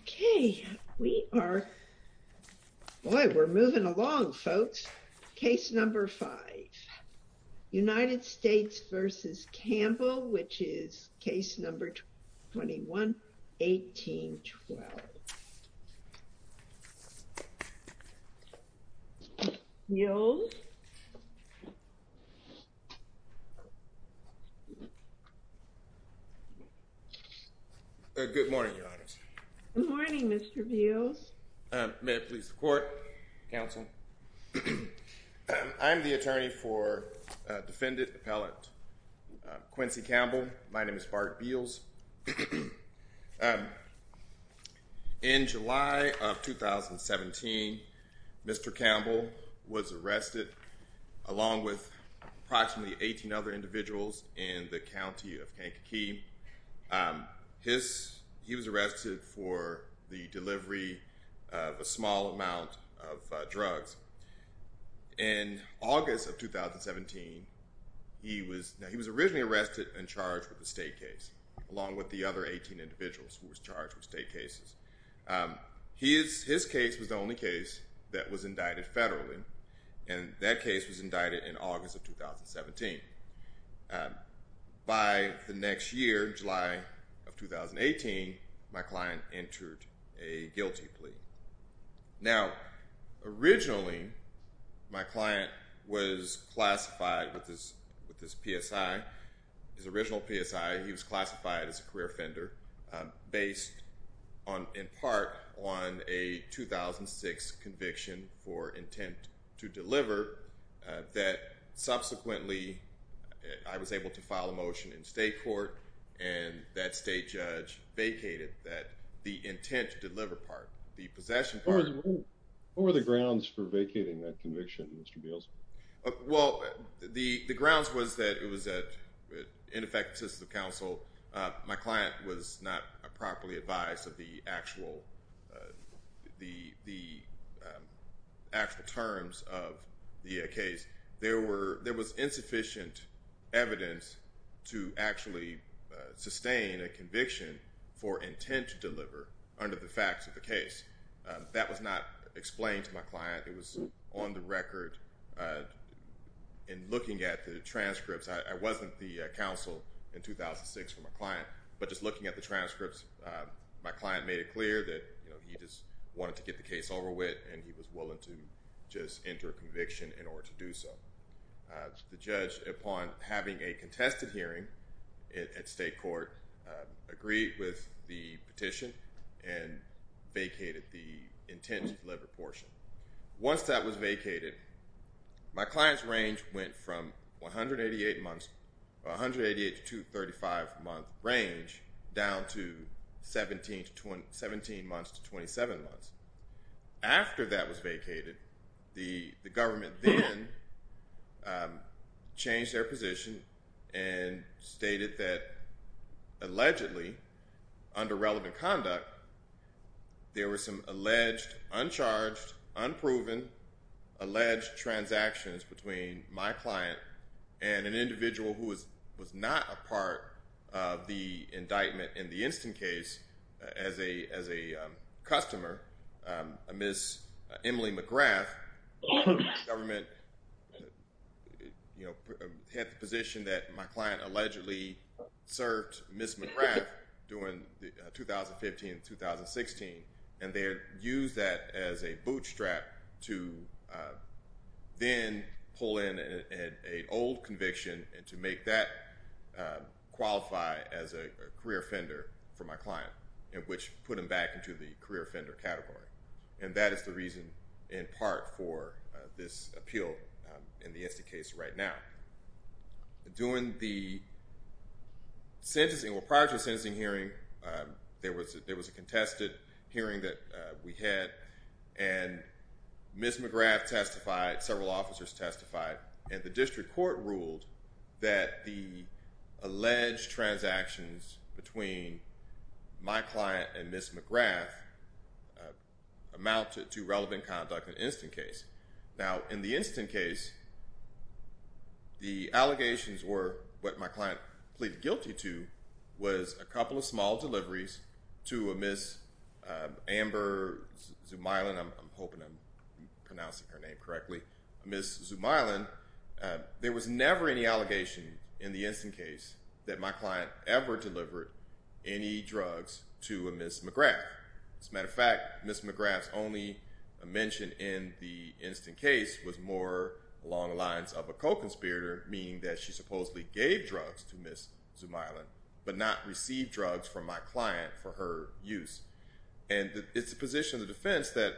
Okay, we are, boy, we're moving along, folks. Case number five, United States v. Campbell, which is case number 21-18-12. Bills? Good morning, Your Honors. Good morning, Mr. Bills. May it please the court, counsel. I'm the attorney for defendant appellate Quincey Campbell. My name is Bart Bills. In July of 2017, Mr. Campbell was arrested along with approximately 18 other individuals in the county of Kankakee. He was arrested for the delivery of a small amount of drugs. In August of 2017, he was originally arrested and charged with a state case, along with the other 18 individuals who were charged with state cases. His case was the only case that was indicted federally, and that case was indicted in August of 2017. By the next year, July of 2018, my client entered a guilty plea. Now, originally, my client was classified with his PSI, his original PSI. He was classified as a career offender based in part on a 2006 conviction for intent to deliver that subsequently I was able to file a motion in state court, and that state judge vacated the intent to deliver part, the possession part. What were the grounds for vacating that conviction, Mr. Bills? Well, the grounds was that it was an ineffective system of counsel. My client was not properly advised of the actual terms of the case. There was insufficient evidence to actually sustain a conviction for intent to deliver under the facts of the case. That was not explained to my client. It was on the record. In looking at the transcripts, I wasn't the counsel in 2006 for my client, but just looking at the transcripts, my client made it clear that he just wanted to get the case over with, and he was willing to just enter a conviction in order to do so. The judge, upon having a contested hearing at state court, agreed with the petition and vacated the intent to deliver portion. Once that was vacated, my client's range went from 188 to 235-month range down to 17 months to 27 months. After that was vacated, the government then changed their position and stated that allegedly, under relevant conduct, there were some alleged, uncharged, unproven, alleged transactions between my client and an individual who was not a part of the indictment in the instant case as a customer. Ms. Emily McGrath, the government had the position that my client allegedly served Ms. McGrath during 2015-2016, and they used that as a bootstrap to then pull in an old conviction and to make that qualify as a career offender for my client, which put him back into the career offender category. And that is the reason, in part, for this appeal in the instant case right now. Prior to the sentencing hearing, there was a contested hearing that we had, and Ms. McGrath testified, several officers testified, and the district court ruled that the alleged transactions between my client and Ms. McGrath amounted to relevant conduct in the instant case. Now, in the instant case, the allegations were what my client pleaded guilty to was a couple of small deliveries to a Ms. Amber Zumeyland, I'm hoping I'm pronouncing her name correctly, Ms. Zumeyland. There was never any allegation in the instant case that my client ever delivered any drugs to a Ms. McGrath. As a matter of fact, Ms. McGrath's only mention in the instant case was more along the lines of a co-conspirator, meaning that she supposedly gave drugs to Ms. Zumeyland, but not received drugs from my client for her use. And it's the position of the defense that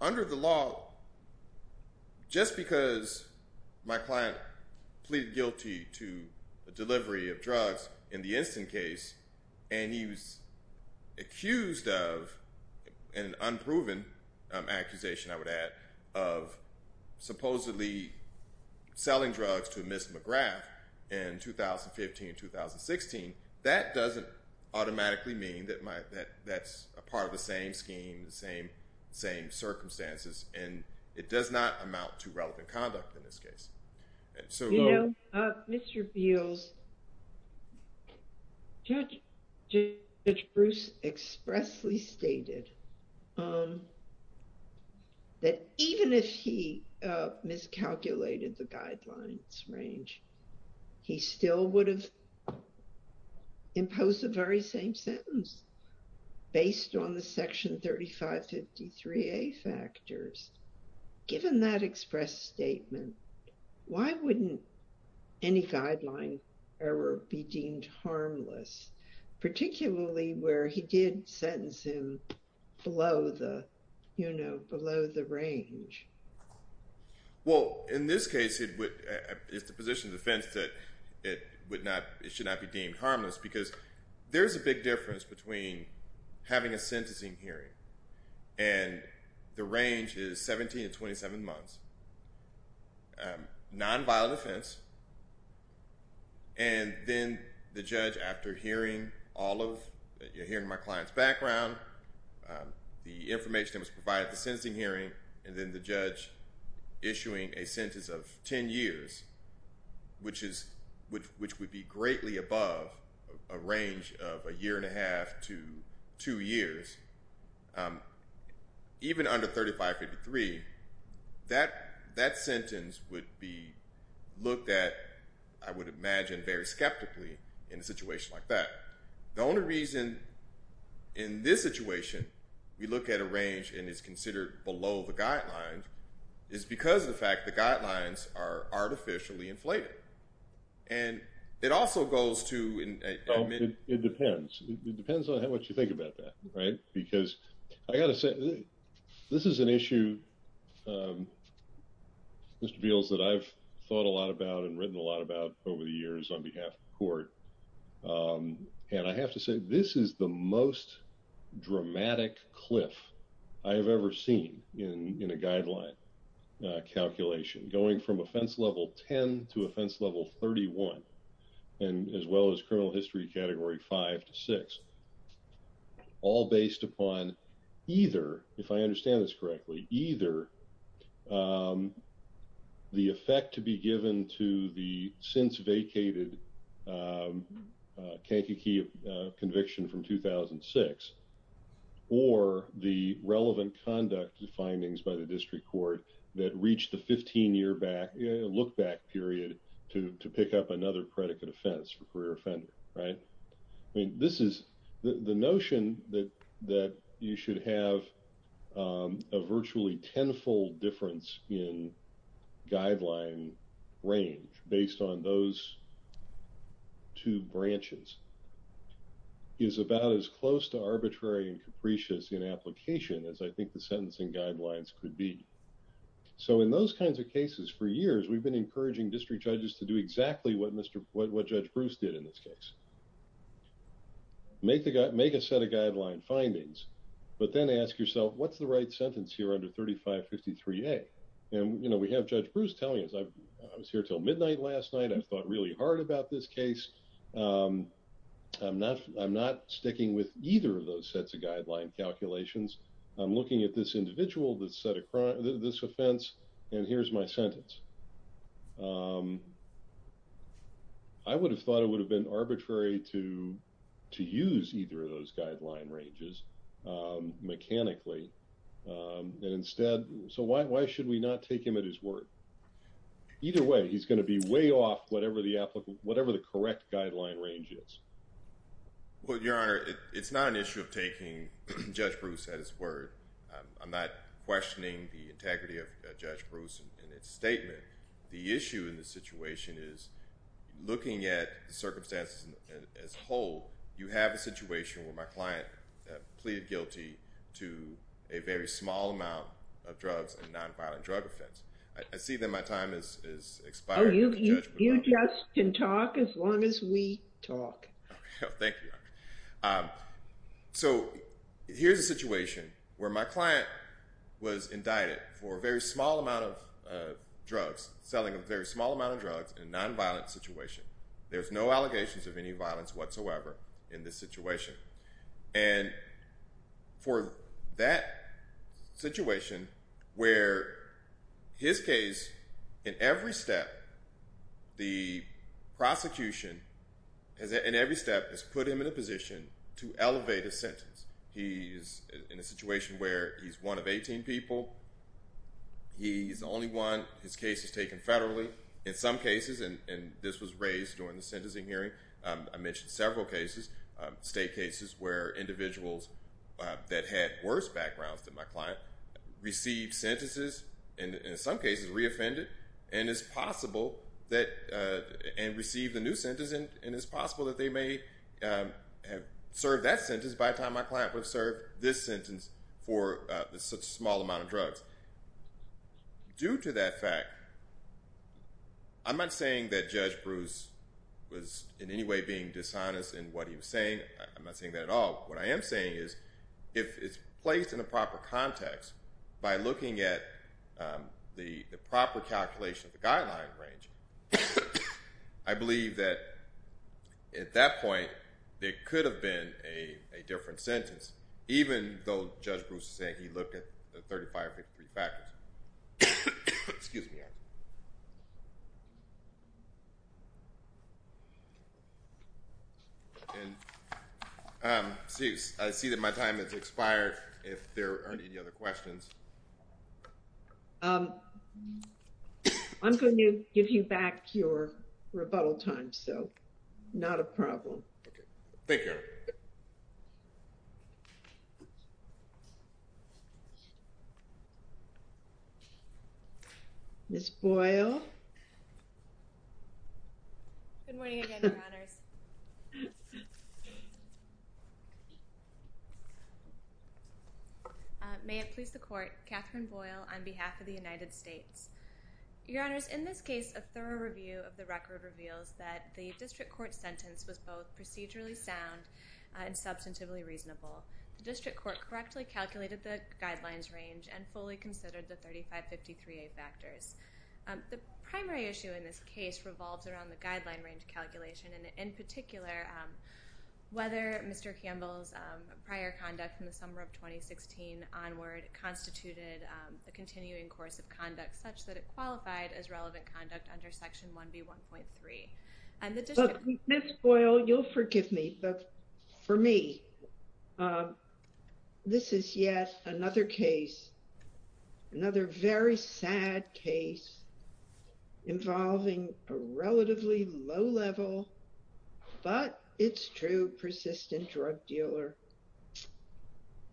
under the law, just because my client pleaded guilty to a delivery of drugs in the instant case, and he was accused of an unproven accusation, I would add, of supposedly selling drugs to Ms. McGrath in 2015, 2016, that doesn't automatically mean that that's a part of the same scheme, the same circumstances, and it does not amount to relevant conduct in this case. You know, Mr. Beals, Judge Bruce expressly stated that even if he miscalculated the guidelines range, he still would have imposed the very same sentence based on the Section 3553A factors. Given that express statement, why wouldn't any guideline ever be deemed harmless, particularly where he did sentence him below the, you know, below the range? Well, in this case, it would, it's the position of the defense that it would not, it should not be deemed harmless because there's a big difference between having a sentencing hearing, and the range is 17 to 27 months. Nonviolent offense, and then the judge, after hearing all of, hearing my client's background, the information that was provided at the sentencing hearing, and then the judge issuing a sentence of 10 years, which is, which would be greatly above a range of a year and a half to two years. Even under 3553, that sentence would be looked at, I would imagine, very skeptically in a situation like that. The only reason in this situation we look at a range and it's considered below the guidelines is because of the fact the guidelines are artificially inflated. And it also goes to... It depends. It depends on how much you think about that, right? Because I gotta say, this is an issue, Mr. Beals, that I've thought a lot about and written a lot about over the years on behalf of the court. And I have to say, this is the most dramatic cliff I have ever seen in a guideline calculation, going from offense level 10 to offense level 31, and as well as criminal history category five to six. All based upon either, if I understand this correctly, either the effect to be given to the since vacated Kankakee conviction from 2006, or the relevant conduct findings by the district court that reached the 15 year back, look back period, to pick up another predicate offense for career offender, right? I mean, this is the notion that you should have a virtually tenfold difference in guideline range based on those two branches is about as close to arbitrary and capricious in application as I think the sentencing guidelines could be. So in those kinds of cases for years, we've been encouraging district judges to do exactly what Judge Bruce did in this case. Make a set of guideline findings, but then ask yourself, what's the right sentence here under 3553A? And we have Judge Bruce telling us, I was here till midnight last night, I've thought really hard about this case. I'm not sticking with either of those sets of guideline calculations. I'm looking at this individual, this offense, and here's my sentence. I would have thought it would have been arbitrary to use either of those guideline ranges mechanically. And instead, so why should we not take him at his word? Either way, he's going to be way off whatever the correct guideline range is. Well, Your Honor, it's not an issue of taking Judge Bruce at his word. I'm not questioning the integrity of Judge Bruce in its statement. The issue in this situation is looking at the circumstances as a whole, you have a situation where my client pleaded guilty to a very small amount of drugs and nonviolent drug offense. I see that my time has expired. You just can talk as long as we talk. Thank you, Your Honor. So here's a situation where my client was indicted for a very small amount of drugs, selling a very small amount of drugs in a nonviolent situation. There's no allegations of any violence whatsoever in this situation. And for that situation where his case, in every step, the prosecution, in every step, has put him in a position to elevate his sentence. He's in a situation where he's one of 18 people. He's the only one. His case is taken federally. In some cases, and this was raised during the sentencing hearing, I mentioned several cases, state cases where individuals that had worse backgrounds than my client received sentences, and in some cases re-offended, and it's possible that, and received a new sentence, and it's possible that they may have served that sentence by the time my client would have served this sentence for such a small amount of drugs. Due to that fact, I'm not saying that Judge Bruce was in any way being dishonest in what he was saying. I'm not saying that at all. What I am saying is if it's placed in a proper context by looking at the proper calculation of the guideline range, I believe that at that point, it could have been a different sentence, even though Judge Bruce is saying he looked at the 35 or 53 factors. Excuse me. Okay. I see that my time has expired. If there aren't any other questions. I'm going to give you back your rebuttal time, so not a problem. Thank you. Judge Boyle. Good morning again, Your Honors. May it please the Court, Catherine Boyle on behalf of the United States. Your Honors, in this case, a thorough review of the record reveals that the district court sentence was both procedurally sound and substantively reasonable. The district court correctly calculated the guidelines range and fully considered the 35-53A factors. The primary issue in this case revolves around the guideline range calculation, and in particular, whether Mr. Campbell's prior conduct in the summer of 2016 onward constituted the continuing course of conduct such that it qualified as relevant conduct under Section 1B1.3. Ms. Boyle, you'll forgive me, but for me, this is yet another case, another very sad case involving a relatively low-level, but it's true, persistent drug dealer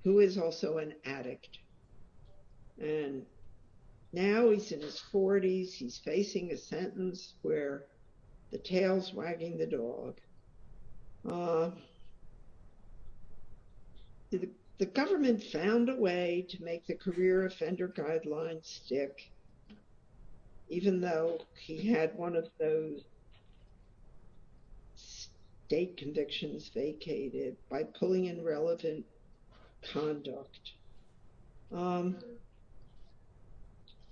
who is also an addict. And now he's in his 40s, he's facing a sentence where the tail's wagging the dog. The government found a way to make the career offender guidelines stick, even though he had one of those state convictions vacated by pulling in relevant conduct.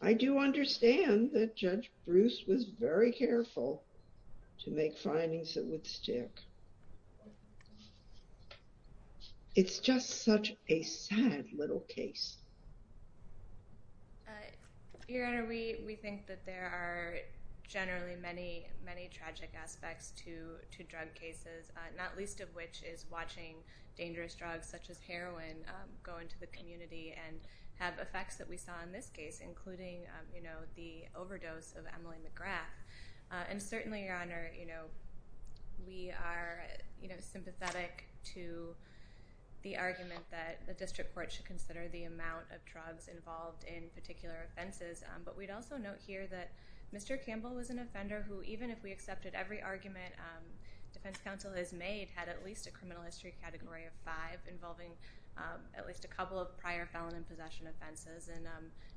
I do understand that Judge Bruce was very careful to make findings that would stick. It's just such a sad little case. Your Honor, we think that there are generally many, many tragic aspects to drug cases, not least of which is watching dangerous drugs such as heroin go into the community and have effects that we saw in this case, including the overdose of Emily McGrath. And certainly, Your Honor, we are sympathetic to the argument that the district court should consider the amount of drugs involved in particular offenses. But we'd also note here that Mr. Campbell was an offender who, even if we accepted every argument defense counsel has made, had at least a criminal history category of five involving at least a couple of prior felon and possession offenses and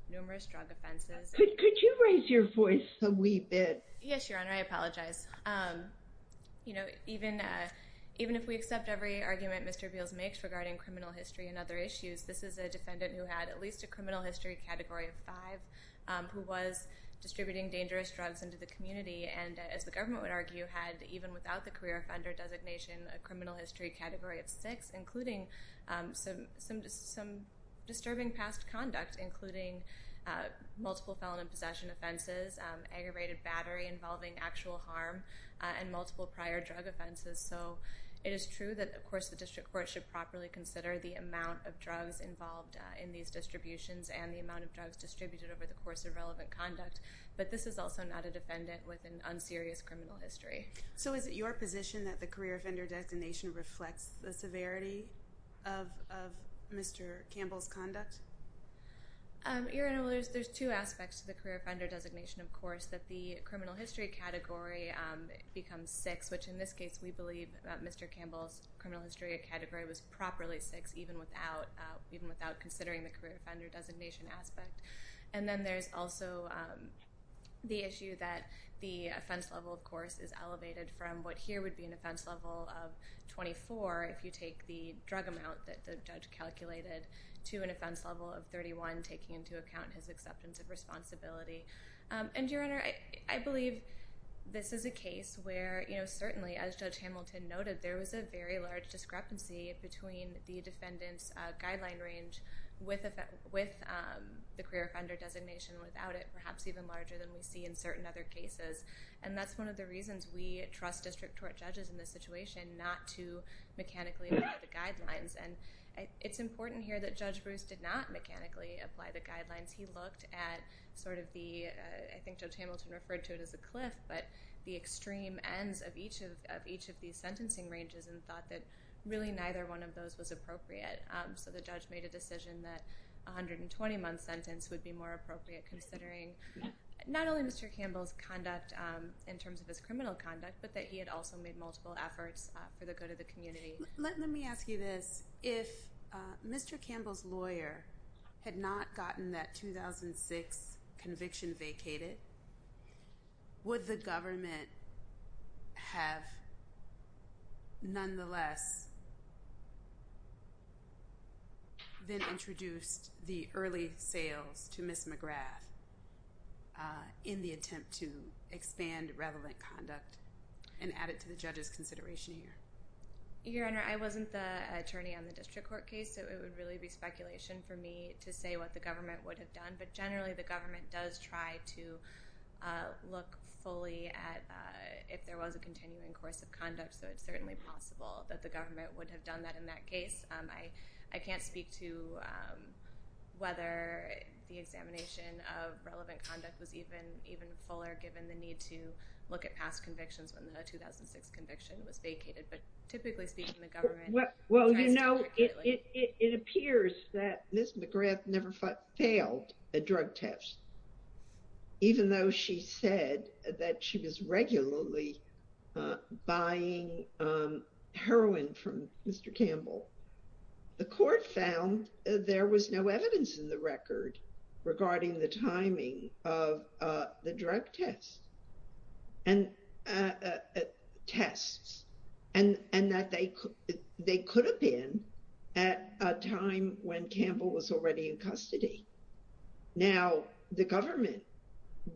numerous drug offenses. Could you raise your voice a wee bit? Yes, Your Honor, I apologize. You know, even if we accept every argument Mr. Beals makes regarding criminal history and other issues, this is a defendant who had at least a criminal history category of five who was distributing dangerous drugs into the community. And as the government would argue, had even without the career offender designation, a criminal history category of six, including some disturbing past conduct, including multiple felon and possession offenses, aggravated battery involving actual harm, and multiple prior drug offenses. So it is true that, of course, the district court should properly consider the amount of drugs involved in these distributions and the amount of drugs distributed over the course of relevant conduct. But this is also not a defendant with an unserious criminal history. So is it your position that the career offender designation reflects the severity of Mr. Campbell's conduct? Your Honor, there's two aspects to the career offender designation, of course. That the criminal history category becomes six, which in this case we believe Mr. Campbell's criminal history category was properly six, even without considering the career offender designation aspect. And then there's also the issue that the offense level, of course, is elevated from what here would be an offense level of 24 if you take the drug amount that the judge calculated to an offense level of 31, taking into account his acceptance of responsibility. And, Your Honor, I believe this is a case where, certainly, as Judge Hamilton noted, there was a very large discrepancy between the defendant's guideline range with the career offender designation and without it, perhaps even larger than we see in certain other cases. And that's one of the reasons we trust district court judges in this situation not to mechanically apply the guidelines. And it's important here that Judge Bruce did not mechanically apply the guidelines. He looked at sort of the, I think Judge Hamilton referred to it as a cliff, but the extreme ends of each of these sentencing ranges and thought that really neither one of those was appropriate. So the judge made a decision that a 120-month sentence would be more appropriate, considering not only Mr. Campbell's conduct in terms of his criminal conduct, but that he had also made multiple efforts for the good of the community. Let me ask you this. If Mr. Campbell's lawyer had not gotten that 2006 conviction vacated, would the government have nonetheless then introduced the early sales to Ms. McGrath in the attempt to expand relevant conduct and add it to the judge's consideration here? Your Honor, I wasn't the attorney on the district court case, so it would really be speculation for me to say what the government would have done. But generally, the government does try to look fully at if there was a continuing course of conduct, so it's certainly possible that the government would have done that in that case. I can't speak to whether the examination of relevant conduct was even fuller, given the need to look at past convictions when the 2006 conviction was vacated. But typically speaking, the government tries to look at it. It appears that Ms. McGrath never failed a drug test, even though she said that she was regularly buying heroin from Mr. Campbell. The court found there was no evidence in the record regarding the timing of the drug tests and that they could have been at a time when Campbell was already in custody. Now, the government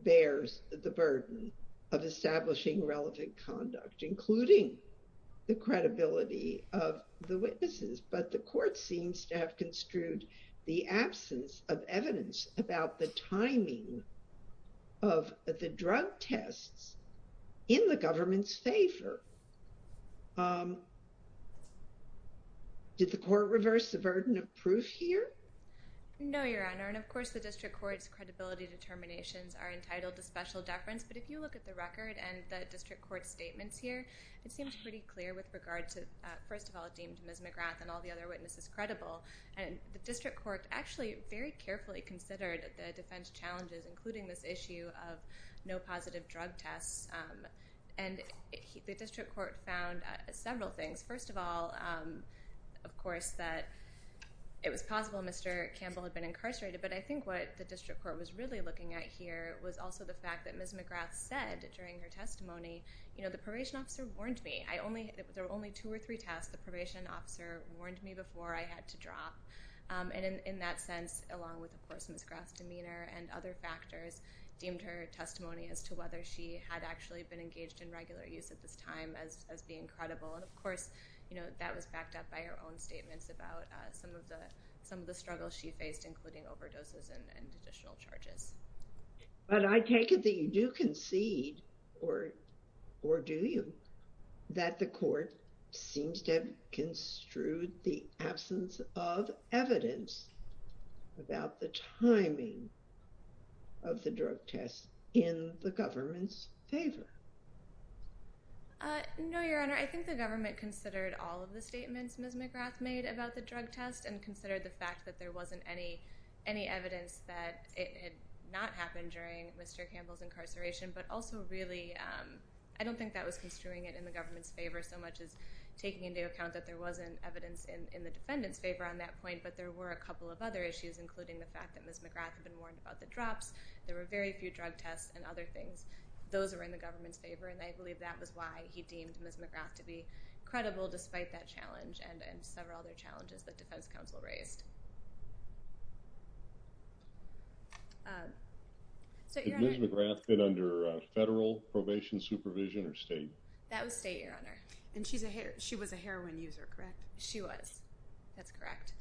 bears the burden of establishing relevant conduct, including the credibility of the witnesses, but the court seems to have construed the absence of evidence about the timing of the drug tests in the government's favor. Did the court reverse the burden of proof here? No, Your Honor, and of course the district court's credibility determinations are entitled to special deference. But if you look at the record and the district court's statements here, it seems pretty clear with regard to, first of all, it deemed Ms. McGrath and all the other witnesses credible. And the district court actually very carefully considered the defense challenges, including this issue of no positive drug tests. And the district court found several things. First of all, of course, that it was possible Mr. Campbell had been incarcerated, but I think what the district court was really looking at here was also the fact that Ms. McGrath said during her testimony, you know, the probation officer warned me. There were only two or three tests. The probation officer warned me before I had to drop. And in that sense, along with, of course, Ms. McGrath's demeanor and other factors, deemed her testimony as to whether she had actually been engaged in regular use at this time as being credible. And of course, you know, that was backed up by her own statements about some of the struggles she faced, including overdoses and additional charges. But I take it that you do concede, or do you, that the court seems to have construed the absence of evidence about the timing of the drug tests in the government's favor? No, Your Honor. I think the government considered all of the statements Ms. McGrath made about the drug test and considered the fact that there wasn't any evidence that it had not happened during Mr. Campbell's incarceration. But also really, I don't think that was construing it in the government's favor so much as taking into account that there wasn't evidence in the defendant's favor on that point. But there were a couple of other issues, including the fact that Ms. McGrath had been warned about the drops. There were very few drug tests and other things. Those were in the government's favor. And I believe that was why he deemed Ms. McGrath to be credible, despite that challenge and several other challenges that defense counsel raised. Did Ms. McGrath fit under federal probation supervision or state? That was state, Your Honor. And she was a heroin user, correct? She was. That's correct.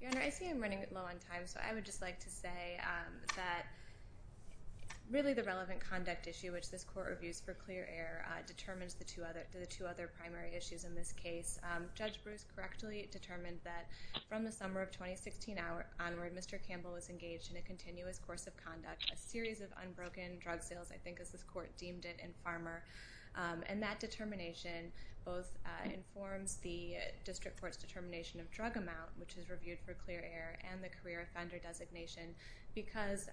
Your Honor, I see I'm running low on time, so I would just like to say that really the relevant conduct issue, which this court reviews for clear error, determines the two other primary issues in this case. Judge Bruce correctly determined that from the summer of 2016 onward, Mr. Campbell was engaged in a continuous course of conduct, a series of unbroken drug sales, I think as this court deemed it, in Farmer. And that determination both informs the district court's determination of drug amount, which is reviewed for clear error, and the career offender designation. Because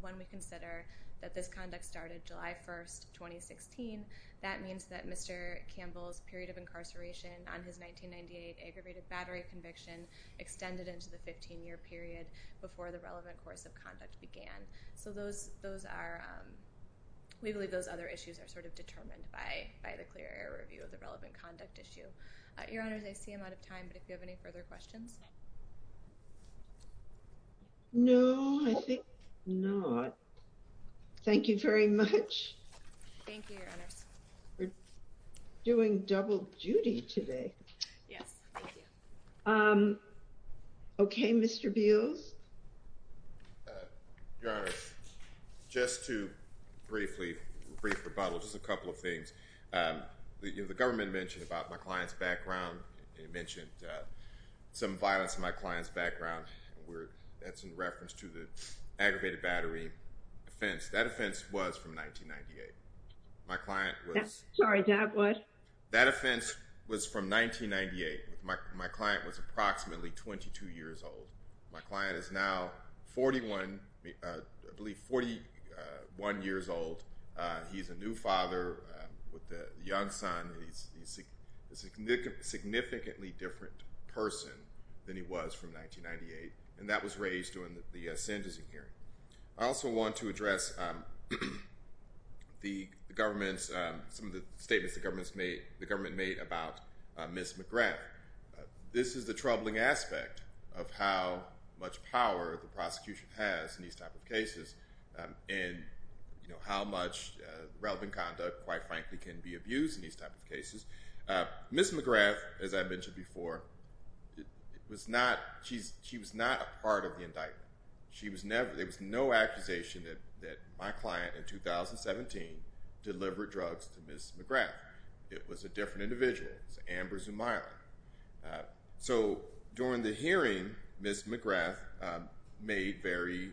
when we consider that this conduct started July 1, 2016, that means that Mr. Campbell's period of incarceration on his 1998 aggravated battery conviction extended into the 15-year period before the relevant course of conduct began. So we believe those other issues are determined by the clear error review of the relevant conduct issue. Your Honor, I see I'm out of time, but if you have any further questions. No, I think not. Thank you very much. Thank you, Your Honors. We're doing double duty today. Yes, thank you. Okay, Mr. Beals. Your Honor, just to briefly, a brief rebuttal, just a couple of things. The government mentioned about my client's background. It mentioned some violence in my client's background. That's in reference to the aggravated battery offense. That offense was from 1998. My client was... Sorry, that what? That offense was from 1998. My client was approximately 22 years old. My client is now 41, I believe 41 years old. He's a new father with a young son. He's a significantly different person than he was from 1998, and that was raised during the sentencing hearing. I also want to address the government's, some of the statements the government made about Ms. McGrath. This is the troubling aspect of how much power the prosecution has in these type of cases, and how much relevant conduct, quite frankly, can be abused in these type of cases. Ms. McGrath, as I mentioned before, she was not a part of the indictment. There was no accusation that my client in 2017 delivered drugs to Ms. McGrath. It was a different individual. It was Amber Zumeyler. So, during the hearing, Ms. McGrath made very,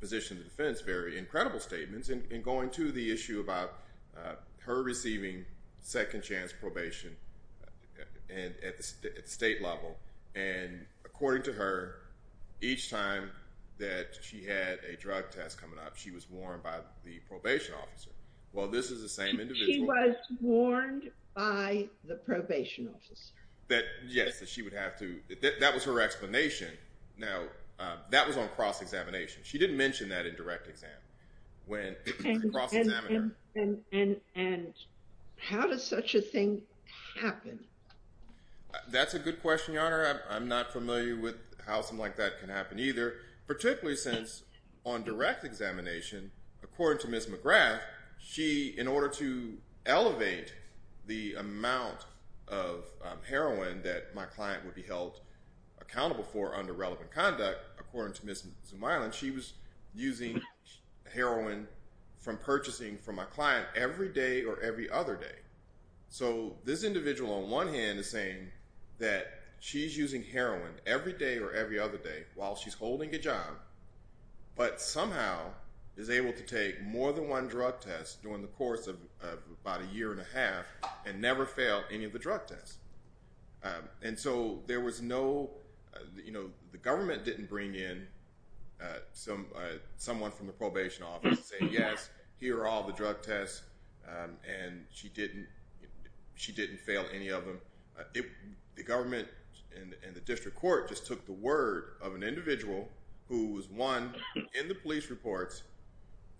positioned the defense, very incredible statements. In going to the issue about her receiving second chance probation at the state level, and according to her, each time that she had a drug test coming up, she was warned by the probation officer. Well, this is the same individual. She was warned by the probation officer. Yes, that she would have to, that was her explanation. Now, that was on cross-examination. She didn't mention that in direct exam. And how does such a thing happen? That's a good question, Your Honor. I'm not familiar with how something like that can happen either, particularly since on direct examination, according to Ms. McGrath, she, in order to elevate the amount of heroin that my client would be held accountable for under relevant conduct, according to Ms. Zumeyler, she was using heroin from purchasing from my client every day or every other day. So, this individual on one hand is saying that she's using heroin every day or every other day while she's holding a job, but somehow is able to take more than one drug test during the course of about a year and a half, and never failed any of the drug tests. And so, there was no, you know, the government didn't bring in someone from the probation office and say, she didn't fail any of them. The government and the district court just took the word of an individual who was, one, in the police reports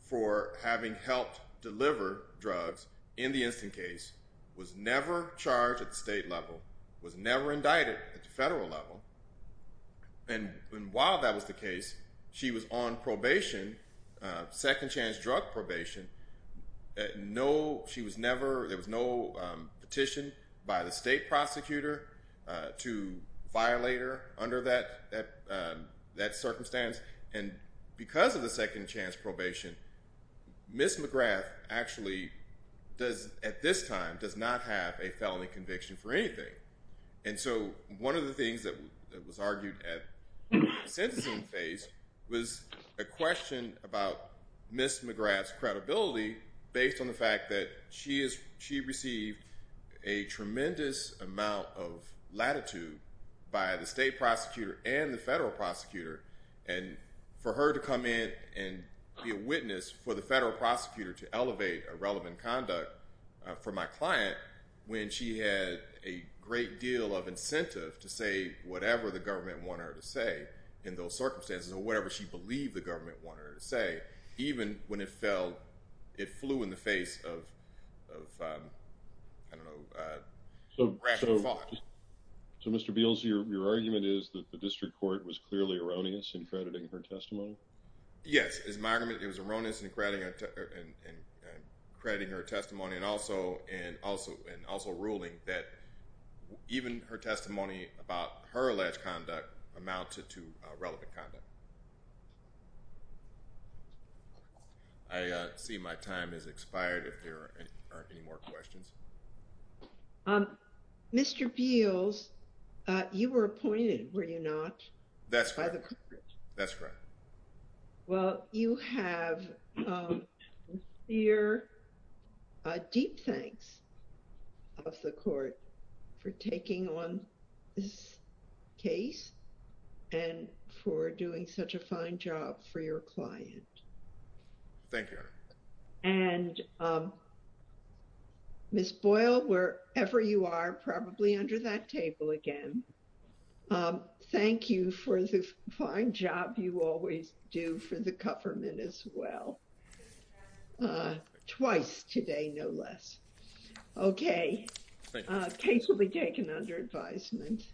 for having helped deliver drugs in the instant case, was never charged at the state level, was never indicted at the federal level. And while that was the case, she was on probation, second chance drug probation. No, she was never, there was no petition by the state prosecutor to violate her under that circumstance. And because of the second chance probation, Ms. McGrath actually does, at this time, does not have a felony conviction for anything. And so, one of the things that was argued at the sentencing phase was a question about Ms. McGrath's credibility based on the fact that she received a tremendous amount of latitude by the state prosecutor and the federal prosecutor, and for her to come in and be a witness for the federal prosecutor to elevate a relevant conduct for my client when she had a great deal of incentive to say whatever the government wanted her to say in those circumstances, or whatever she believed the government wanted her to say, even when it fell, it flew in the face of, I don't know, rational thought. So, Mr. Beals, your argument is that the district court was clearly erroneous in crediting her testimony? Yes, it was erroneous in crediting her testimony and also ruling that even her testimony about her alleged conduct amounted to relevant conduct. I see my time has expired if there are any more questions. Mr. Beals, you were appointed, were you not? By the court. That's correct. Well, you have sincere deep thanks of the court for taking on this case and for doing such a fine job for your client. Thank you. And Ms. Boyle, wherever you are, probably under that table again, thank you for the fine job you always do for the government as well. Twice today, no less. Okay, case will be taken under advisement.